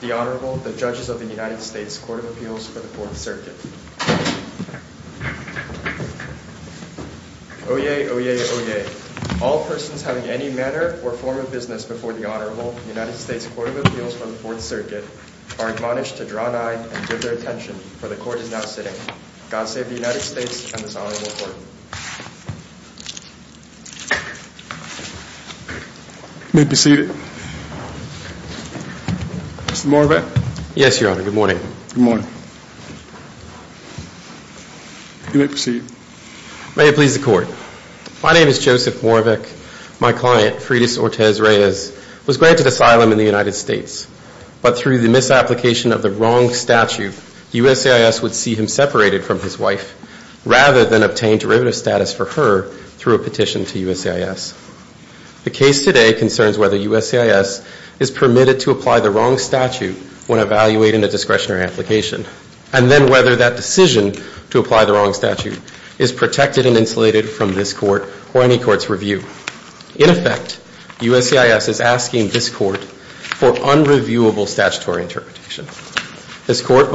The Honorable, the Judges of the United States Court of Appeals for the Fourth Circuit. Oyez, oyez, oyez. All persons having any manner or form of business before the Honorable United States Court of Appeals for the Fourth Circuit are admonished to draw nigh and give their attention, for the Court is now sitting. God save the United States and this Honorable Court. You may be seated. Mr. Moravec? Yes, Your Honor. Good morning. Good morning. You may proceed. May it please the Court. My name is Joseph Moravec. My client, Fridis Ortez Reyes, was granted asylum in the United States, but through the misapplication of the wrong statute, USAIS would see him separated from his wife rather than obtain derivative status for her through a petition to USAIS. The case today concerns whether USAIS is permitted to apply the wrong statute when evaluating a discretionary application, and then whether that decision to apply the wrong statute is protected and insulated from this Court or any Court's review. In effect, USAIS is asking this Court for unreviewable statutory interpretation. The Court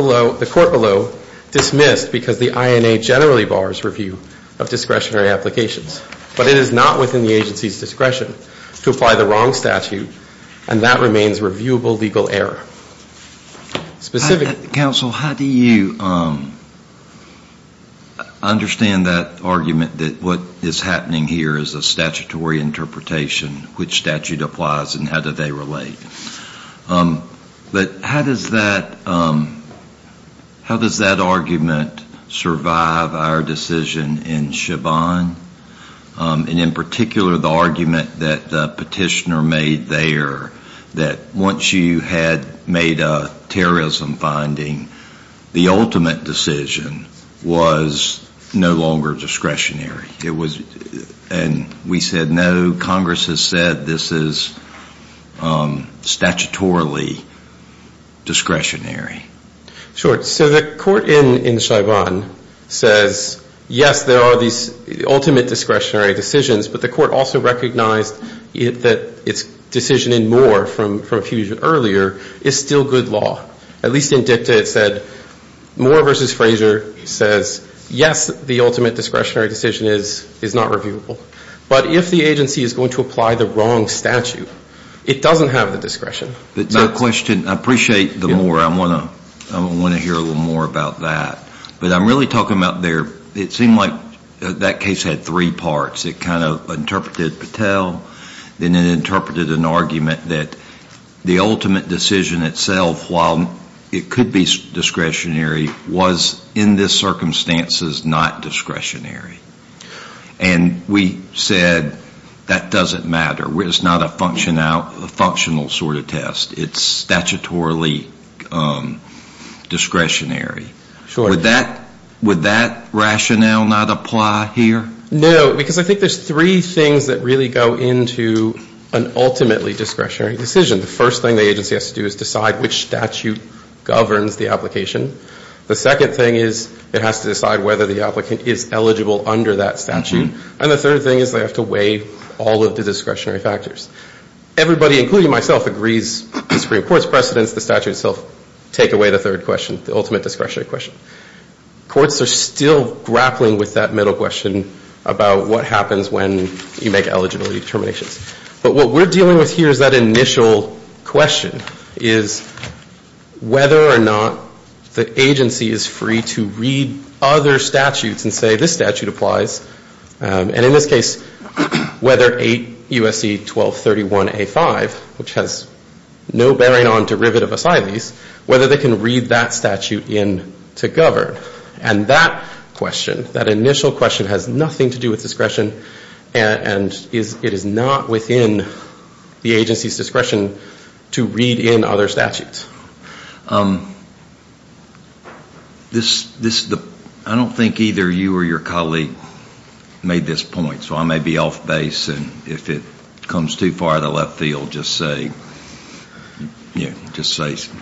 below dismissed because the INA generally bars review of discretionary applications, but it is not within the agency's discretion to apply the wrong statute, and that remains reviewable legal error. Specific. Counsel, how do you understand that argument that what is happening here is a statutory interpretation, which statute applies and how do they relate? But how does that argument survive our decision in Chavannes, and in particular the argument that the petitioner made there that once you had made a terrorism finding, the ultimate decision was no longer discretionary? And we said, no, Congress has said this is statutorily discretionary. Sure. So the Court in Chavannes says, yes, there are these ultimate discretionary decisions, but the Court also recognized that its decision in Moore from a few years earlier is still good law. At least in dicta it said, Moore v. Fraser says, yes, the ultimate discretionary decision is not reviewable. But if the agency is going to apply the wrong statute, it doesn't have the discretion. I appreciate the Moore. I want to hear a little more about that. But I'm really talking about there, it seemed like that case had three parts. It kind of interpreted Patel, then it interpreted an argument that the ultimate decision itself, while it could be discretionary, was in this circumstances not discretionary. And we said that doesn't matter. It's not a functional sort of test. It's statutorily discretionary. Would that rationale not apply here? No, because I think there's three things that really go into an ultimately discretionary decision. The first thing the agency has to do is decide which statute governs the application. The second thing is it has to decide whether the applicant is eligible under that statute. And the third thing is they have to weigh all of the discretionary factors. Everybody, including myself, agrees the Supreme Court's precedence, the statute itself, take away the third question, the ultimate discretionary question. Courts are still grappling with that middle question about what happens when you make eligibility determinations. But what we're dealing with here is that initial question is whether or not the agency is free to read other statutes and say this statute applies. And in this case, whether 8 U.S.C. 1231A5, which has no bearing on derivative asylees, whether they can read that statute in to go. And that question, that initial question has nothing to do with discretion and it is not within the agency's discretion to read in other statutes. I don't think either you or your colleague made this point, so I may be off base. And if it comes too far out of the left field, just say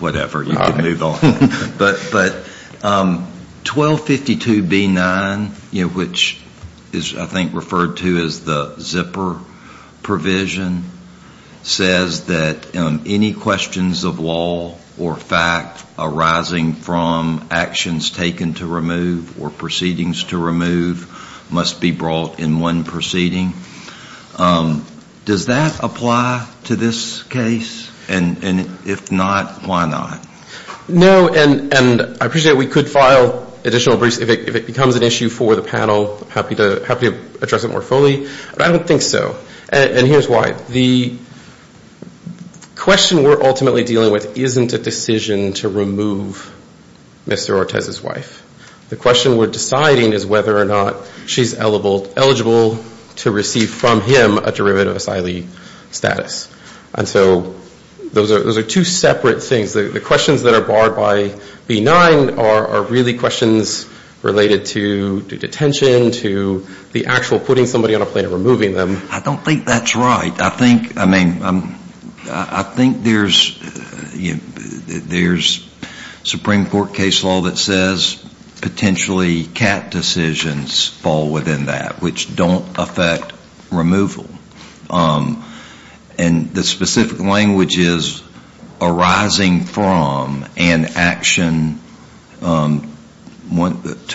whatever. You can move on. But 1252B9, which is I think referred to as the zipper provision, says that any questions of law or fact arising from actions taken to remove or proceedings to remove must be brought in one proceeding. Does that apply to this case? And if not, why not? And I appreciate we could file additional briefs if it becomes an issue for the panel. I'm happy to address it more fully. But I don't think so. And here's why. The question we're ultimately dealing with isn't a decision to remove Mr. Ortiz's wife. The question we're deciding is whether or not she's eligible to receive from him a derivative asylee status. And so those are two separate things. The questions that are barred by B9 are really questions related to detention, to the actual putting somebody on a plane and removing them. I don't think that's right. I think, I mean, I think there's Supreme Court case law that says potentially cat decisions fall within that, which don't affect removal. And the specific language is arising from an action to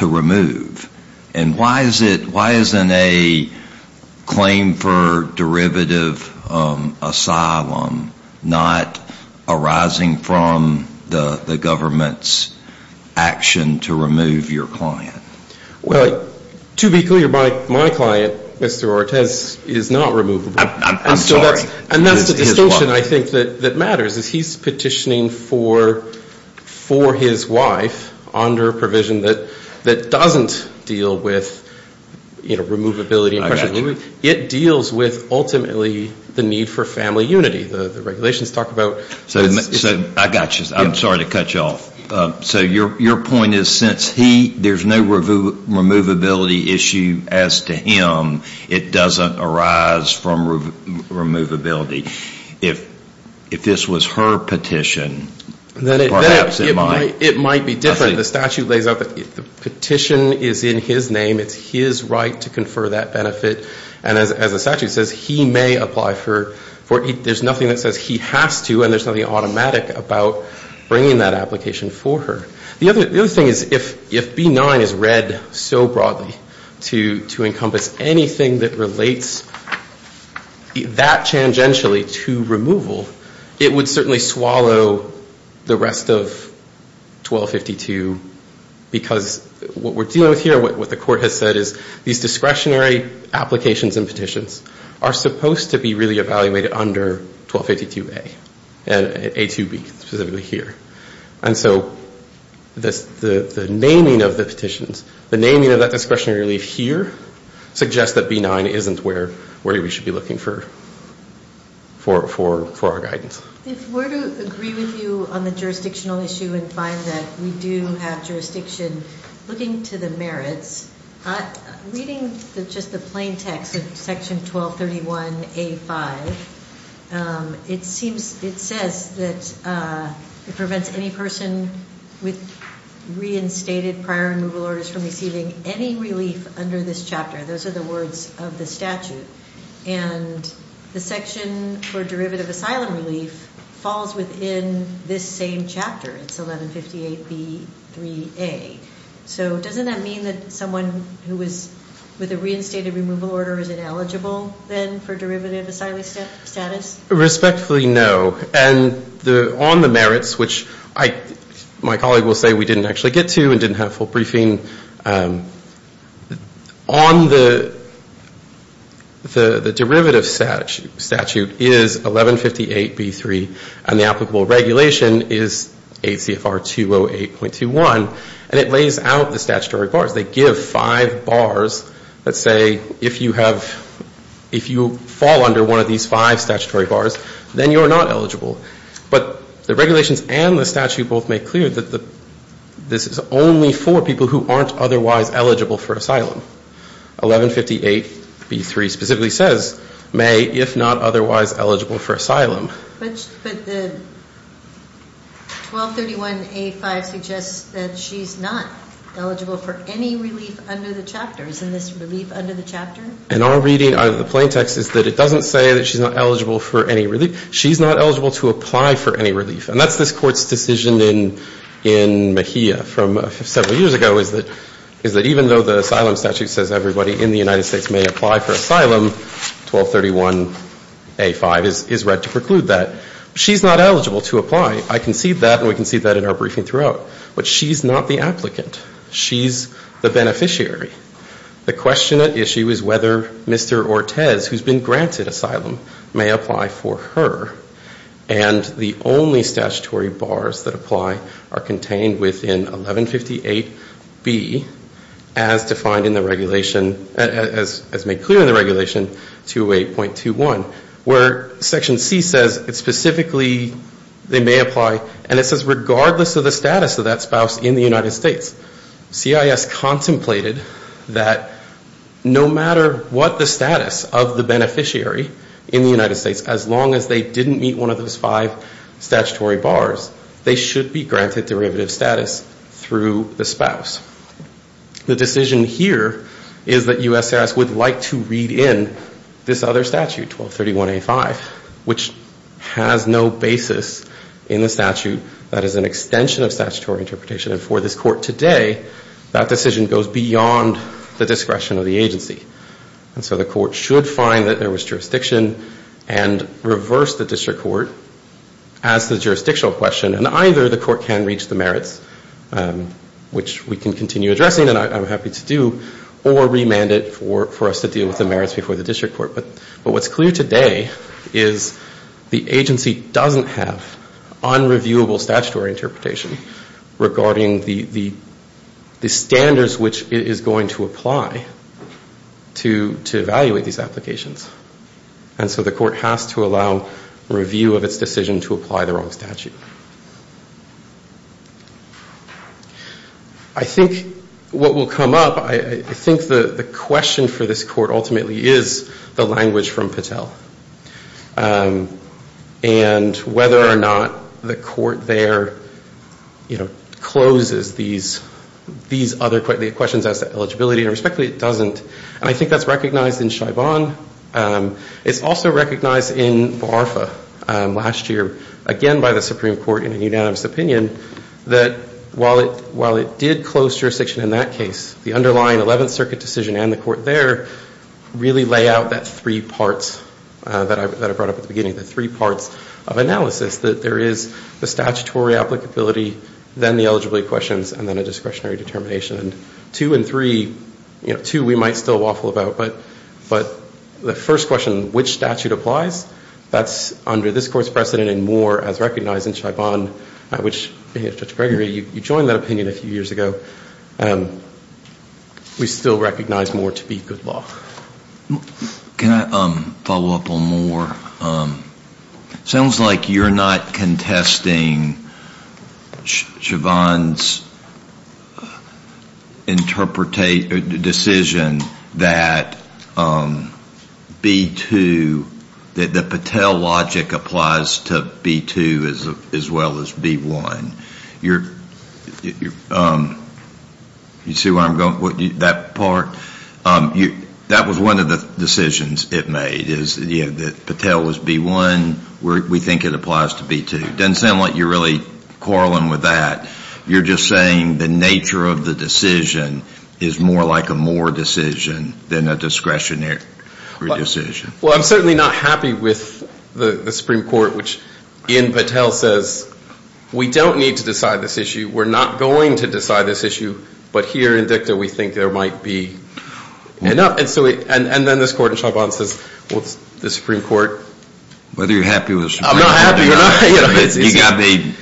remove. And why is it, why isn't a claim for derivative asylum not arising from the government's action to remove your client? Well, to be clear, my client, Mr. Ortiz, is not removable. I'm sorry. And that's the distortion I think that matters, is he's petitioning for his wife under a provision that doesn't deal with, you know, removability and pressure. It deals with ultimately the need for family unity. The regulations talk about... I got you. I'm sorry to cut you off. So your point is since he, there's no removability issue as to him, it doesn't arise from removability. If this was her petition, perhaps it might. It might be different. The statute lays out that the petition is in his name. It's his right to confer that benefit. And as the statute says, he may apply for, there's nothing that says he has to and there's nothing automatic about bringing that application for her. The other thing is if B-9 is read so broadly to encompass anything that relates that tangentially to removal, it would certainly swallow the rest of 1252. Because what we're dealing with here, what the court has said is these discretionary applications and petitions are supposed to be really evaluated under 1252A. And A-2B, specifically here. And so the naming of the petitions, the naming of that discretionary relief here, suggests that B-9 isn't where we should be looking for our guidance. If we're to agree with you on the jurisdictional issue and find that we do have jurisdiction, looking to the merits, reading just the plain text of Section 1231A-5, it seems, it says that it prevents any person with reinstated prior removal orders from receiving any relief under this chapter. Those are the words of the statute. And the section for derivative asylum relief falls within this same chapter. It's 1158B-3A. So doesn't that mean that someone who was with a reinstated removal order is ineligible then for derivative asylum status? Respectfully, no. And on the merits, which my colleague will say we didn't actually get to and didn't have full briefing, on the derivative statute is 1158B-3. And the applicable regulation is ACFR 208.21. And it lays out the statutory bars. They give five bars that say if you have, if you fall under one of these five statutory bars, then you're not eligible. But the regulations and the statute both make clear that this is only for people who aren't otherwise eligible for asylum. 1158B-3 specifically says, may, if not otherwise eligible for asylum. But the 1231A-5 suggests that she's not eligible for any relief under the chapter. Isn't this relief under the chapter? And our reading out of the plain text is that it doesn't say that she's not eligible for any relief. She's not eligible to apply for any relief. And that's this Court's decision in Mejia from several years ago, is that even though the asylum statute says everybody in the United States may apply for asylum, 1231A-5 is read to preclude that. She's not eligible to apply. I concede that, and we concede that in our briefing throughout. But she's not the applicant. She's the beneficiary. The question at issue is whether Mr. Ortez, who's been granted asylum, may apply for her. And the only statutory bars that apply are contained within 1158B, as defined in the regulation, as made clear in the regulation, 208.21, where Section C says specifically they may apply. And it says regardless of the status of that spouse in the United States, CIS contemplated that no matter what the status of the beneficiary in the United States, as long as they didn't meet one of those five statutory bars, they should be granted derivative status through the spouse. The decision here is that USS would like to read in this other statute, 1231A-5, which has no basis in the statute that is an extension of statutory interpretation. And for this Court today, that decision goes beyond the discretion of the agency. And so the Court should find that there was jurisdiction and reverse the district court as the jurisdictional question. And either the Court can reach the merits, which we can continue addressing and I'm happy to do, or remand it for us to deal with the merits before the district court. But what's clear today is the agency doesn't have unreviewable statutory interpretation regarding the standards which it is going to apply to evaluate these applications. And so the Court has to allow review of its decision to apply the wrong statute. I think what will come up, I think the question for this Court ultimately is the language from Patel. And whether or not the Court there, you know, closes these other questions as to eligibility. Respectfully, it doesn't. And I think that's recognized in Chabon. It's also recognized in Barfa last year, again by the Supreme Court in a unanimous opinion, that while it did close jurisdiction in that case, the underlying 11th Circuit decision and the Court there really lay out that three parts that I brought up at the beginning, the three parts of analysis, that there is the statutory applicability, then the eligibility questions, and then a discretionary determination. And two and three, you know, two we might still waffle about, but the first question, which statute applies, that's under this Court's precedent and more as recognized in Chabon, which Judge Gregory, you joined that opinion a few years ago. We still recognize more to be good law. Can I follow up on more? It sounds like you're not contesting Chabon's decision that B-2, that the Patel logic applies to B-2 as well as B-1. You see where I'm going with that part? That was one of the decisions it made, is that Patel was B-1. We think it applies to B-2. It doesn't sound like you're really quarreling with that. You're just saying the nature of the decision is more like a more decision than a discretionary decision. Well, I'm certainly not happy with the Supreme Court, which in Patel says we don't need to decide this issue. We're not going to decide this issue, but here in DICTA we think there might be. And then this Court in Chabon says, well, it's the Supreme Court. Whether you're happy with the Supreme Court or not, you've got to be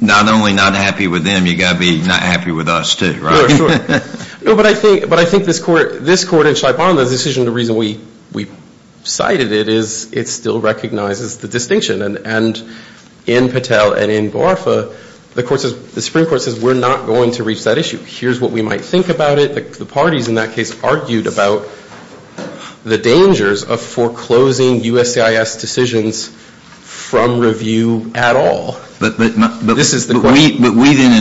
not only not happy with them, you've got to be not happy with us, too. But I think this Court in Chabon, the decision, the reason we cited it is it still recognizes the distinction. And in Patel and in Guarfa, the Supreme Court says we're not going to reach that issue. Here's what we might think about it. The parties in that case argued about the dangers of foreclosing USCIS decisions from review at all. But we then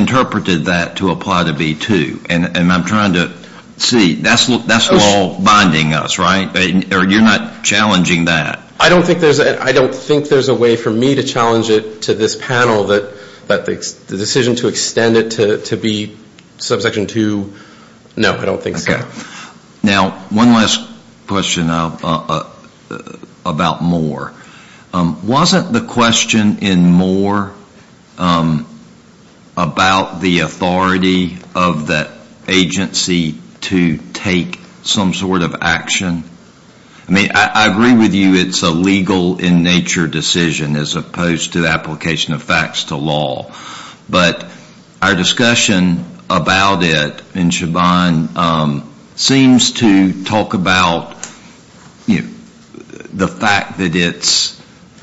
interpreted that to apply to B-2, and I'm trying to see. That's law binding us, right? Or you're not challenging that? I don't think there's a way for me to challenge it to this panel, that the decision to extend it to B subsection 2, no, I don't think so. Now, one last question about Moore. Wasn't the question in Moore about the authority of that agency to take some sort of action? I mean, I agree with you it's a legal in nature decision as opposed to the application of facts to law. But our discussion about it in Chabon seems to talk about the fact that it's a legal in nature decision.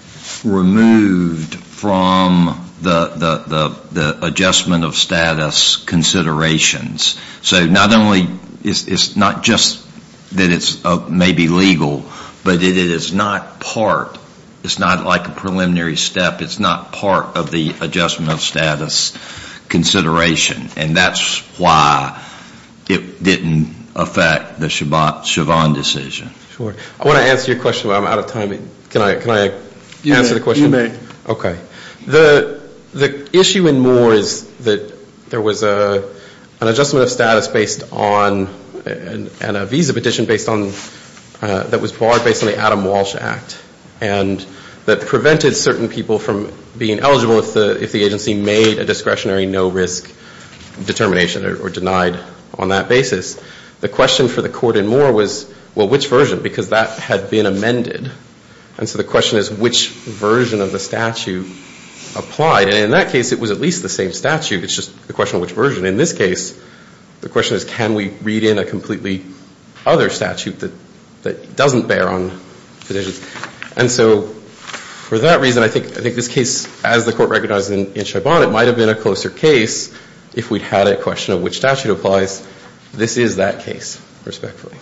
It's removed from the adjustment of status considerations. So it's not just that it's maybe legal, but it is not part, it's not like a preliminary step. It's not part of the adjustment of status consideration. And that's why it didn't affect the Chabon decision. Sure. I want to answer your question, but I'm out of time. Can I answer the question? You may. Okay. The issue in Moore is that there was an adjustment of status based on, and a visa petition based on, that was barred based on the Adam Walsh Act. And that prevented certain people from being eligible if the agency made a discretionary no risk determination or denied on that basis. The question for the court in Moore was, well, which version? Because that had been amended. And so the question is, which version of the statute applied? And in that case, it was at least the same statute. It's just a question of which version. In this case, the question is, can we read in a completely other statute that doesn't bear on positions? And so for that reason, I think this case, as the court recognized in Chabon, it might have been a closer case if we'd had a question of which statute applies. This is that case, respectfully.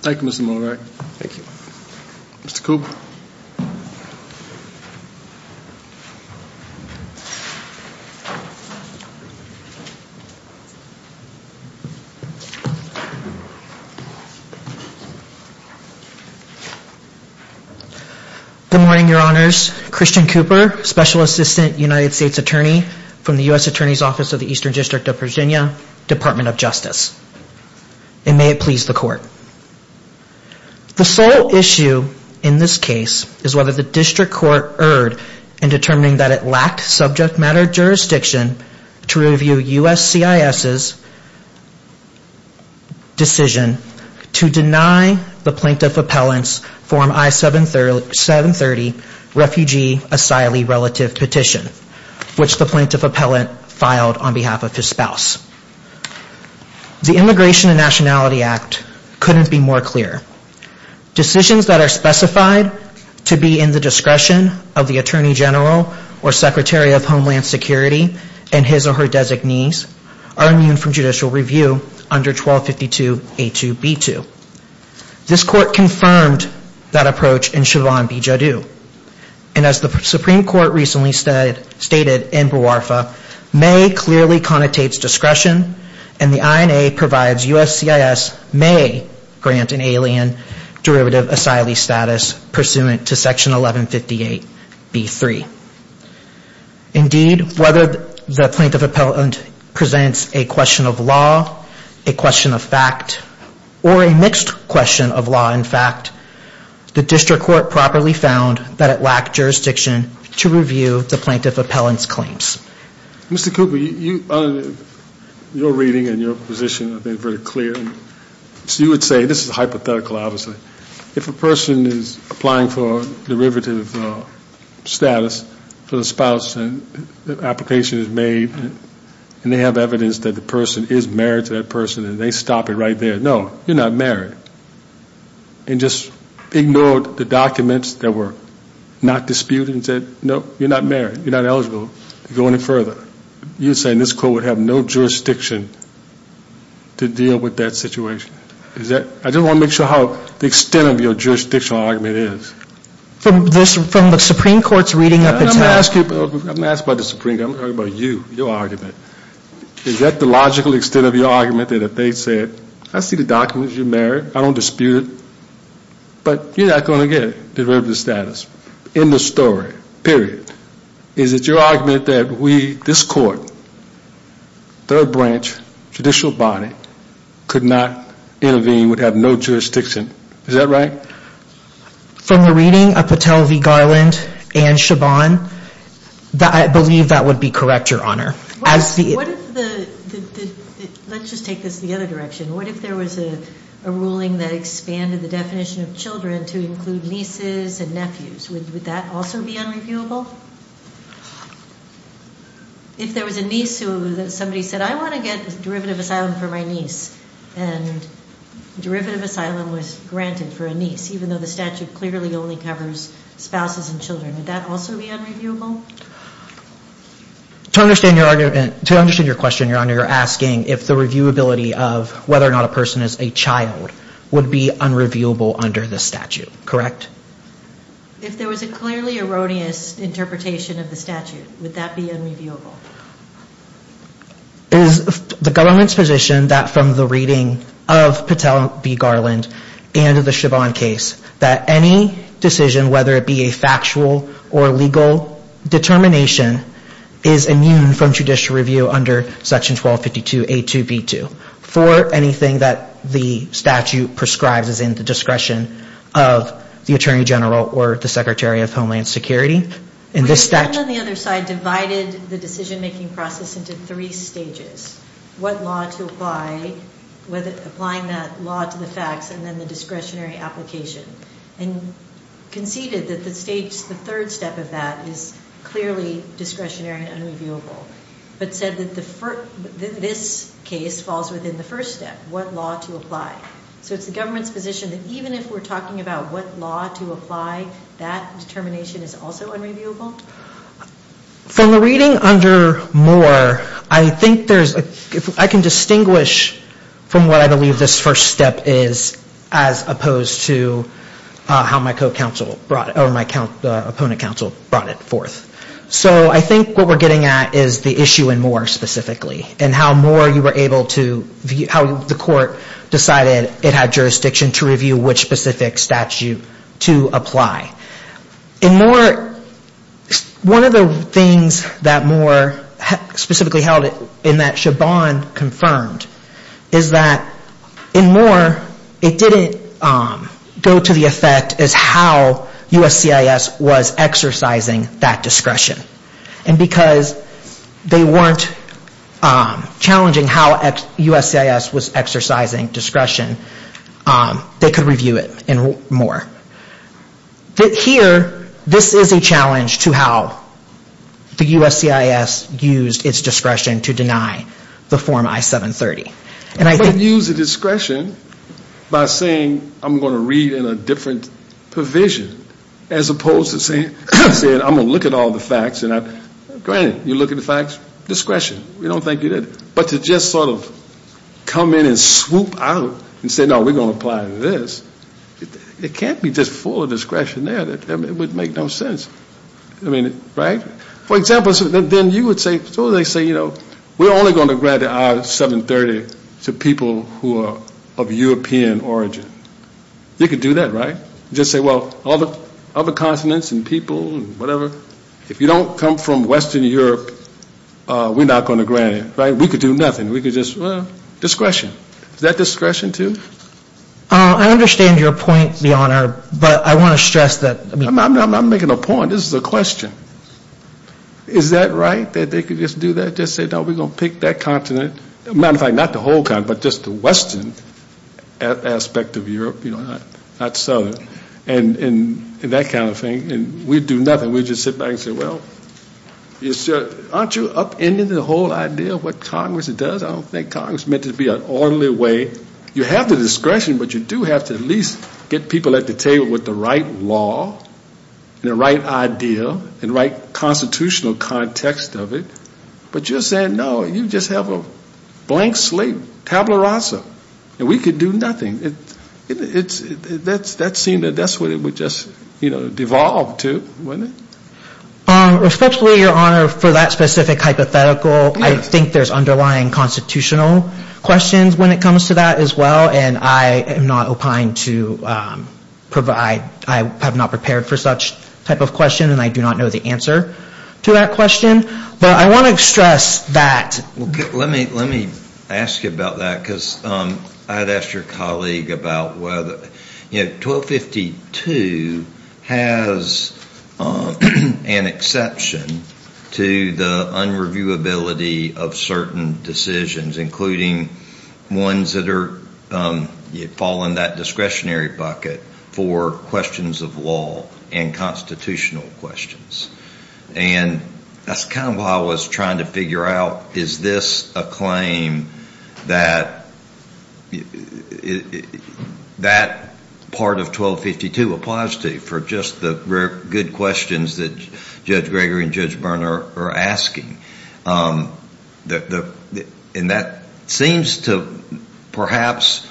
Thank you, Mr. Miller. Thank you. Good morning, Your Honors. Christian Cooper, Special Assistant United States Attorney from the U.S. Attorney's Office of the Eastern District of Virginia, Department of Justice. And may it please the court. The sole issue in this case is whether the district court erred in determining that it lacked subject matter jurisdiction to review U.S. CIS's decision to deny the Plaintiff Appellant's Form I-730 Refugee Asylee Relative Petition, which the Plaintiff Appellant filed on behalf of his spouse. The Immigration and Nationality Act couldn't be more clear. Decisions that are specified to be in the discretion of the Attorney General or Secretary of Homeland Security and his or her designees are immune from judicial review under 1252A2B2. This court confirmed that approach in Chabon v. Jodoux. And as the Supreme Court recently stated in Buarfa, may clearly connotates discretion, and the INA provides U.S. CIS may grant an alien derivative asylee status pursuant to Section 1158B3. Indeed, whether the Plaintiff Appellant presents a question of law, a question of fact, or a mixed question of law and fact, the district court properly found that it lacked jurisdiction to review the Plaintiff Appellant's claims. Mr. Cooper, your reading and your position have been very clear. So you would say, this is hypothetical obviously, if a person is applying for derivative status for the spouse and the application is made and they have evidence that the person is married to that person and they stop it right there, no, you're not married. And just ignored the documents that were not disputed and said, no, you're not married, you're not eligible to go any further. You're saying this court would have no jurisdiction to deal with that situation? I just want to make sure how the extent of your jurisdictional argument is. I'm not asking about the Supreme Court, I'm talking about you, your argument. Is that the logical extent of your argument that if they said, I see the documents, you're married, I don't dispute it, but you're not going to get derivative status. End of story, period. Is it your argument that this court, third branch, judicial body, could not intervene, would have no jurisdiction? Is that right? From the reading of Patel v. Garland and Chabon, I believe that would be correct, Your Honor. Let's just take this the other direction. What if there was a ruling that expanded the definition of children to include nieces and nephews? Would that also be unreviewable? If there was a niece who somebody said, I want to get derivative asylum for my niece, and derivative asylum was granted for a niece, even though the statute clearly only covers spouses and children. Would that also be unreviewable? To understand your question, Your Honor, you're asking if the reviewability of whether or not a person is a child would be unreviewable under the statute, correct? If there was a clearly erroneous interpretation of the statute, would that be unreviewable? Is the government's position that from the reading of Patel v. Garland and the Chabon case, that any decision, whether it be a factual or legal determination, is immune from judicial review under Section 1252A2B2? For anything that the statute prescribes as in the discretion of the Attorney General or the Secretary of Homeland Security? Would a bill on the other side divided the decision-making process into three stages? What law to apply, whether applying that law to the facts, and then the discretionary application? And conceded that the third step of that is clearly discretionary and unreviewable, but said that this case falls within the first step, what law to apply. So it's the government's position that even if we're talking about what law to apply, that determination is also unreviewable? From the reading under Moore, I think there's a, I can distinguish from what I believe this first step is, as opposed to how my co-counsel brought, or my opponent counsel brought it forth. So I think what we're getting at is the issue in Moore specifically, and how Moore you were able to, how the court decided it had jurisdiction to review which specific statute to apply. In Moore, one of the things that Moore specifically held in that Chabon confirmed, is that in Moore, it didn't go to the effect as how USCIS was exercising that discretion. And because they weren't challenging how USCIS was exercising discretion, they could review it in Moore. But here, this is a challenge to how the USCIS used its discretion to deny the Form I-730. And I think... I didn't use the discretion by saying I'm going to read in a different provision, as opposed to saying I'm going to look at all the facts, and granted, you look at the facts, discretion. We don't think you did. But to just sort of come in and swoop out and say no, we're going to apply this, it can't be just full of discretion there. It would make no sense. I mean, right? For example, then you would say, so they say, you know, we're only going to grant the I-730 to people who are of European origin. You could do that, right? Just say, well, other continents and people and whatever. If you don't come from Western Europe, we're not going to grant it, right? We could do nothing. We could just, well, discretion. Is that discretion too? I understand your point, Your Honor, but I want to stress that... I'm not making a point. This is a question. Is that right, that they could just do that? Just say, no, we're going to pick that continent? As a matter of fact, not the whole continent, but just the Western aspect of Europe, you know, not Southern. And that kind of thing. And we'd do nothing. We'd just sit back and say, well, aren't you upending the whole idea of what Congress does? I don't think Congress is meant to be an orderly way. You have the discretion, but you do have to at least get people at the table with the right law, and the right idea, and the right constitutional context of it. But you're saying, no, you just have a blank slate, tabula rasa, and we could do nothing. That's what it would just devolve to, wouldn't it? Respectfully, Your Honor, for that specific hypothetical, I think there's underlying constitutional questions when it comes to that as well. And I am not opined to provide... I have not prepared for such type of question, and I do not know the answer to that question. But I want to stress that... Let me ask you about that, because I had asked your colleague about whether... Is there an exception to the unreviewability of certain decisions, including ones that fall in that discretionary bucket, for questions of law and constitutional questions? And that's kind of how I was trying to figure out, is this a claim that that part of 1252 applies to, for just the good questions that Judge Gregory and Judge Byrne are asking? And that seems to perhaps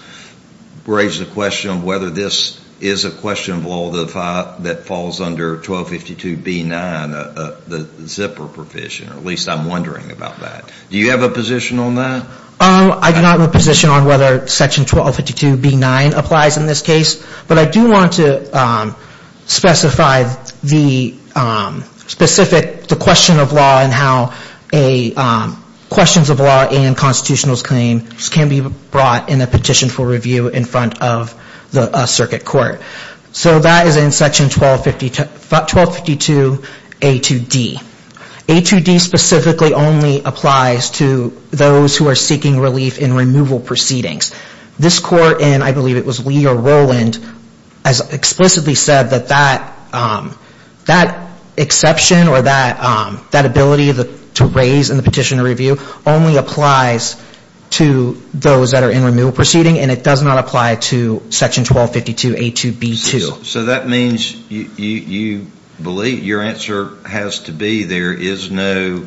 raise the question of whether this is a question of law that falls under 1252B9, the zipper provision, or at least I'm wondering about that. Do you have a position on that? I do not have a position on whether section 1252B9 applies in this case. But I do want to specify the specific question of law and how questions of law and constitutional claims can be brought in a petition for review in front of a circuit court. So that is in section 1252A2D. A2D specifically only applies to those who are seeking relief in removal proceedings. This court, and I believe it was Lee or Rowland, has explicitly said that that exception or that ability to raise in the petition for review only applies to those that are in removal proceedings, and it does not apply to section 1252A2B2. So that means you believe, your answer has to be there is no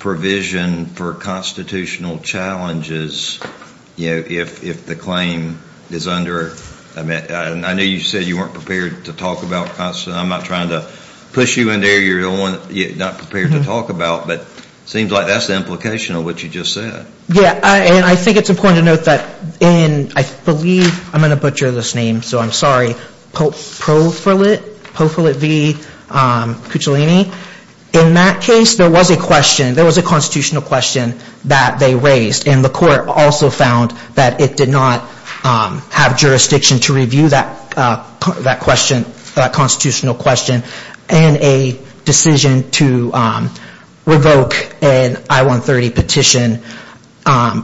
provision for constitutional challenges, you know, if the claim is under, I know you said you weren't prepared to talk about, I'm not trying to push you in there, you're not prepared to talk about, but it seems like that's the implication of what you just said. Yeah, and I think it's important to note that in, I believe, I'm going to butcher this name, so I'm sorry. Pope, Profilet, Profilet v. Cuccellini. In that case, there was a question, there was a constitutional question that they raised. And the court also found that it did not have jurisdiction to review that question, that constitutional question. And a decision to revoke an I-130 petition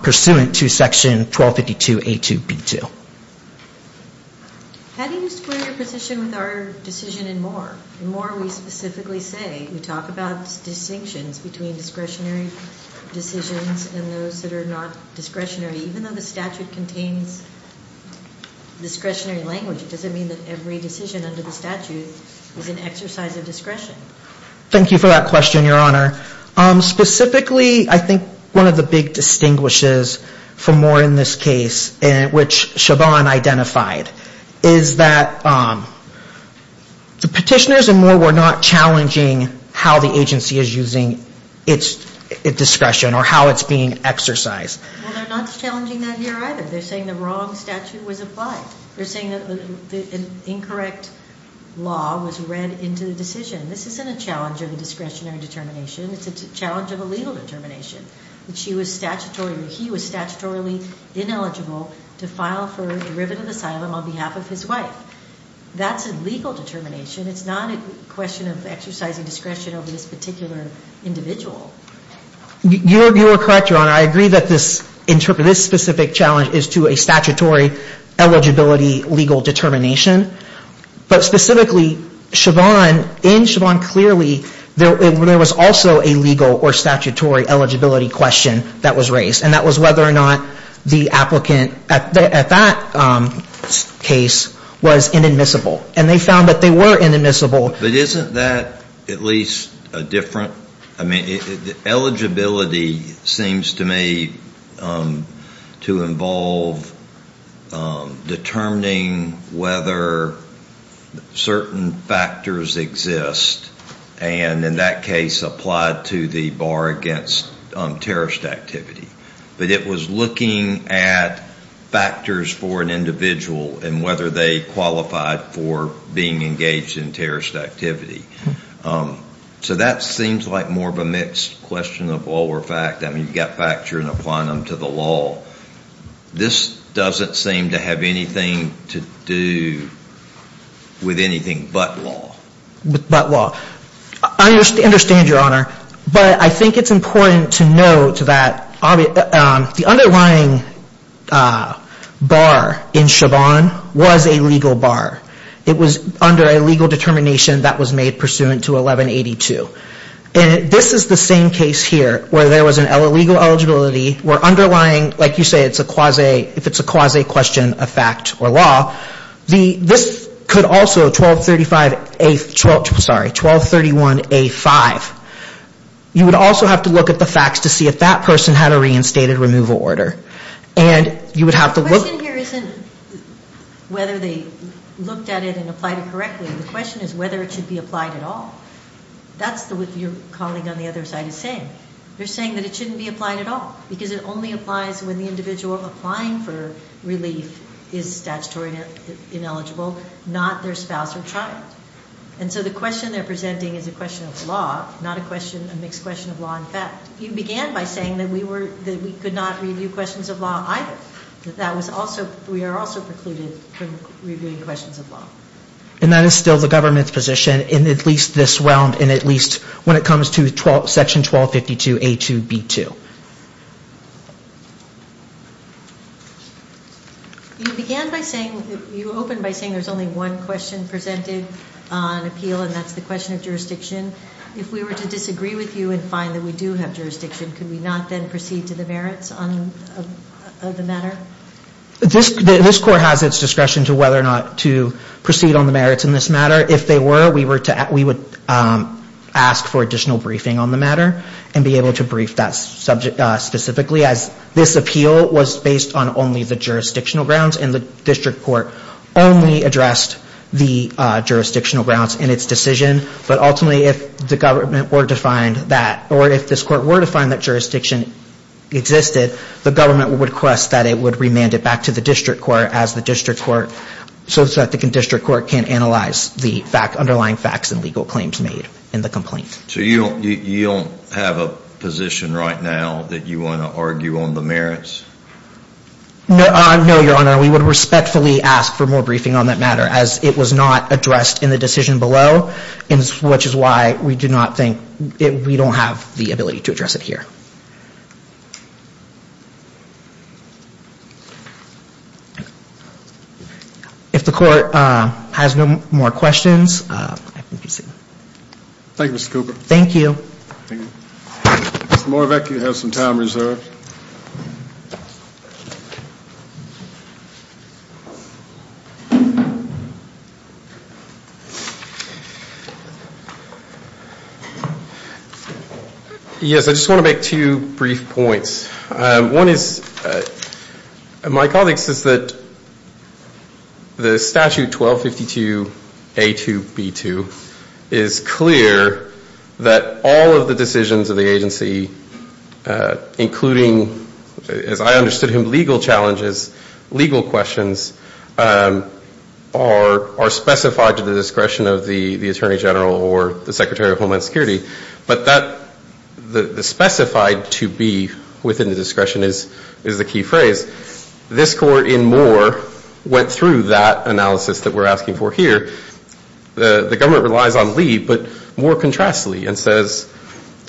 pursuant to section 1252A2B2. How do you square your position with our decision in Moore? In Moore, we specifically say, we talk about distinctions between discretionary decisions and those that are not discretionary. Even though the statute contains discretionary language, it doesn't mean that every decision under the statute is an exercise of discretion. Thank you for that question, Your Honor. Specifically, I think one of the big distinguishes for Moore in this case, which Siobhan identified, is that the petitioners in Moore were not challenging how the agency is using its discretion or how it's being exercised. Well, they're not challenging that here either. They're saying the wrong statute was applied. They're saying that an incorrect law was read into the decision. This isn't a challenge of a discretionary determination. It's a challenge of a legal determination, that he was statutorily ineligible to file for derivative asylum on behalf of his wife. That's a legal determination. It's not a question of exercising discretion over this particular individual. You are correct, Your Honor. I agree that this specific challenge is to a statutory eligibility legal determination. But specifically, Siobhan, in Siobhan clearly, there was also a legal or statutory eligibility question that was raised. And that was whether or not the applicant at that case was inadmissible. And they found that they were inadmissible. But isn't that at least a different – I mean, eligibility seems to me to involve determining whether certain factors exist and, in that case, applied to the bar against terrorist activity. But it was looking at factors for an individual and whether they qualified for being engaged in terrorist activity. So that seems like more of a mixed question of law or fact. I mean, you've got facture and a plenum to the law. This doesn't seem to have anything to do with anything but law. I understand, Your Honor, but I think it's important to note that the underlying bar in Siobhan was a legal bar. It was under a legal determination that was made pursuant to 1182. And this is the same case here where there was an illegal eligibility where underlying, like you say, it's a quasi – if it's a quasi question of fact or law. This could also – 1235A – sorry, 1231A5. You would also have to look at the facts to see if that person had a reinstated removal order. The question here isn't whether they looked at it and applied it correctly. The question is whether it should be applied at all. That's what your colleague on the other side is saying. They're saying that it shouldn't be applied at all, because it only applies when the individual applying for relief is statutory ineligible, not their spouse or child. And so the question they're presenting is a question of law, not a question – a mixed question of law and fact. You began by saying that we were – that we could not review questions of law either, that that was also – we are also precluded from reviewing questions of law. And that is still the government's position in at least this realm and at least when it comes to Section 1252A2B2. You began by saying – you opened by saying there's only one question presented on appeal, and that's the question of jurisdiction. If we were to disagree with you and find that we do have jurisdiction, could we not then proceed to the merits of the matter? This court has its discretion to whether or not to proceed on the merits in this matter. If they were, we would ask for additional briefing on the matter and be able to brief that subject specifically, as this appeal was based on only the jurisdictional grounds and the district court only addressed the jurisdictional grounds in its decision. But ultimately, if the government were to find that – or if this court were to find that jurisdiction existed, the government would request that it would remand it back to the district court as the district court – so that the district court can analyze the underlying facts and legal claims made in the complaint. So you don't have a position right now that you want to argue on the merits? No, Your Honor. We would respectfully ask for more briefing on that matter, as it was not addressed in the decision below, which is why we do not think – we don't have the ability to address it here. If the court has no more questions, I can be seated. Thank you, Mr. Cooper. Thank you. Thank you. Mr. Moravec, you have some time reserved. Yes, I just want to make two brief points. One is – my colleague says that the statute 1252A2B2 is clear that all of the decisions of the agency, including, as I understood him, legal challenges, legal questions, are specified to the discretion of the Attorney General or the Secretary of Homeland Security. But that – the specified to be within the discretion is the key phrase. This court in Moore went through that analysis that we're asking for here. The government relies on Lee, but Moore contrasts Lee and says,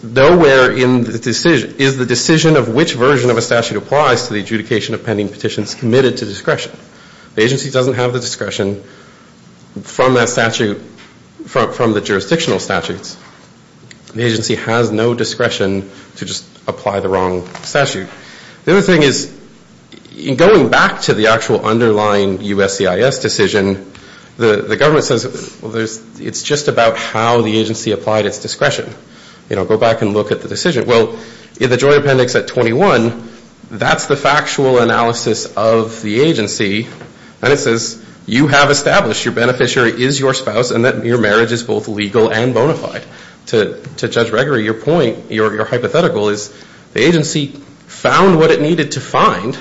nowhere is the decision of which version of a statute applies to the adjudication of pending petitions committed to discretion. The agency doesn't have the discretion from that statute – from the jurisdictional statutes. The agency has no discretion to just apply the wrong statute. The other thing is, in going back to the actual underlying USCIS decision, the government says, well, there's – it's just about how the agency applied its discretion. You know, go back and look at the decision. Well, in the Joint Appendix at 21, that's the factual analysis of the agency, and it says you have established your beneficiary is your spouse and that your marriage is both legal and bona fide. To Judge Gregory, your point – your hypothetical is the agency found what it needed to find,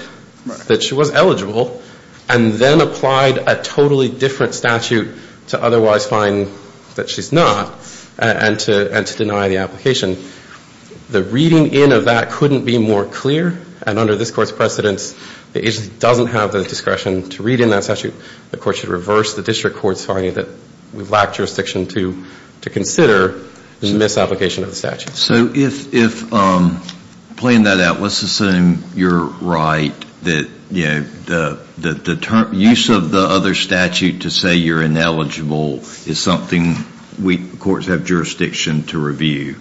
that she was eligible, and then applied a totally different statute to otherwise find that she's not, and to deny the application. The reading in of that couldn't be more clear, and under this Court's precedence, the agency doesn't have the discretion to read in that statute. The Court should reverse the district court's finding that we've lacked jurisdiction to consider the misapplication of the statute. So if – playing that out, let's assume you're right that, you know, the use of the other statute to say you're ineligible is something we courts have jurisdiction to review.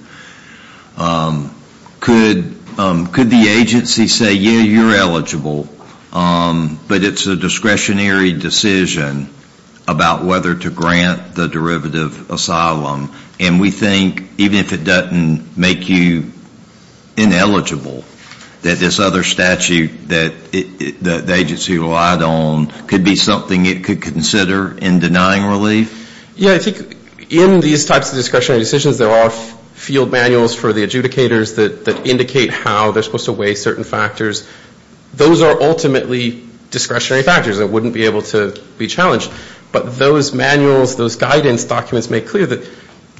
Could the agency say, yeah, you're eligible, but it's a discretionary decision about whether to grant the derivative asylum, and we think even if it doesn't make you ineligible, that this other statute that the agency relied on could be something it could consider in denying relief? Yeah, I think in these types of discretionary decisions, there are field manuals for the adjudicators that indicate how they're supposed to weigh certain factors. Those are ultimately discretionary factors that wouldn't be able to be challenged, but those manuals, those guidance documents make clear that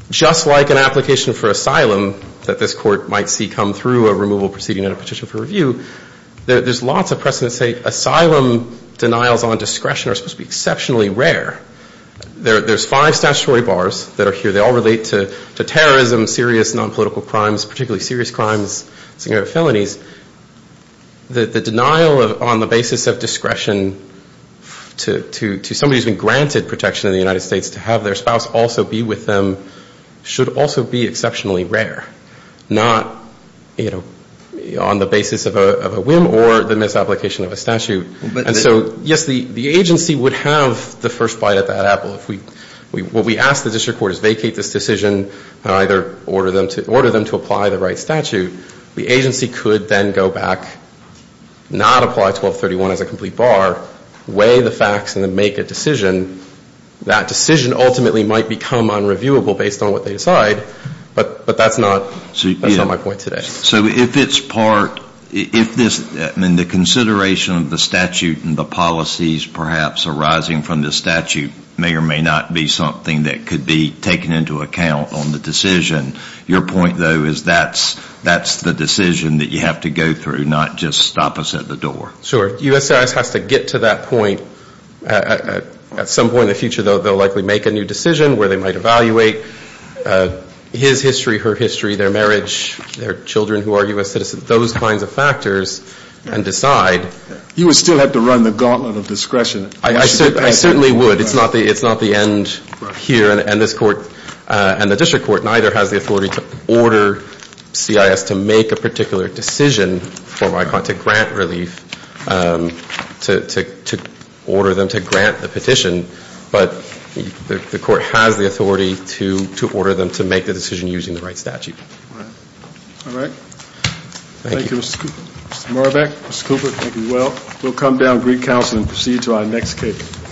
just like an application for asylum that this Court might see come through a removal proceeding and a petition for review, there's lots of precedent to say asylum denials on discretion are supposed to be exceptionally rare. There's five statutory bars that are here. They all relate to terrorism, serious nonpolitical crimes, particularly serious crimes, significant felonies. The denial on the basis of discretion to somebody who's been granted protection in the United States to have their spouse also be with them should also be exceptionally rare, not on the basis of a whim or the misapplication of a statute. And so, yes, the agency would have the first bite of that apple. What we ask the district court is vacate this decision and either order them to apply the right statute. The agency could then go back, not apply 1231 as a complete bar, weigh the facts and then make a decision. That decision ultimately might become unreviewable based on what they decide, but that's not my point today. So if it's part, if this, I mean the consideration of the statute and the policies perhaps arising from this statute may or may not be something that could be taken into account on the decision. Your point, though, is that's the decision that you have to go through, not just stop us at the door. Sure. U.S.S. has to get to that point. At some point in the future, though, they'll likely make a new decision where they might evaluate his history, her history, their marriage, their children who are U.S. citizens, those kinds of factors and decide. You would still have to run the gauntlet of discretion. I certainly would. It's not the end here. And this court and the district court neither has the authority to order CIS to make a particular decision to grant relief, to order them to grant the petition. But the court has the authority to order them to make the decision using the right statute. All right. Thank you, Mr. Cooper. Mr. Moravec, Mr. Cooper, thank you. Well, we'll come down and recounsel and proceed to our next case.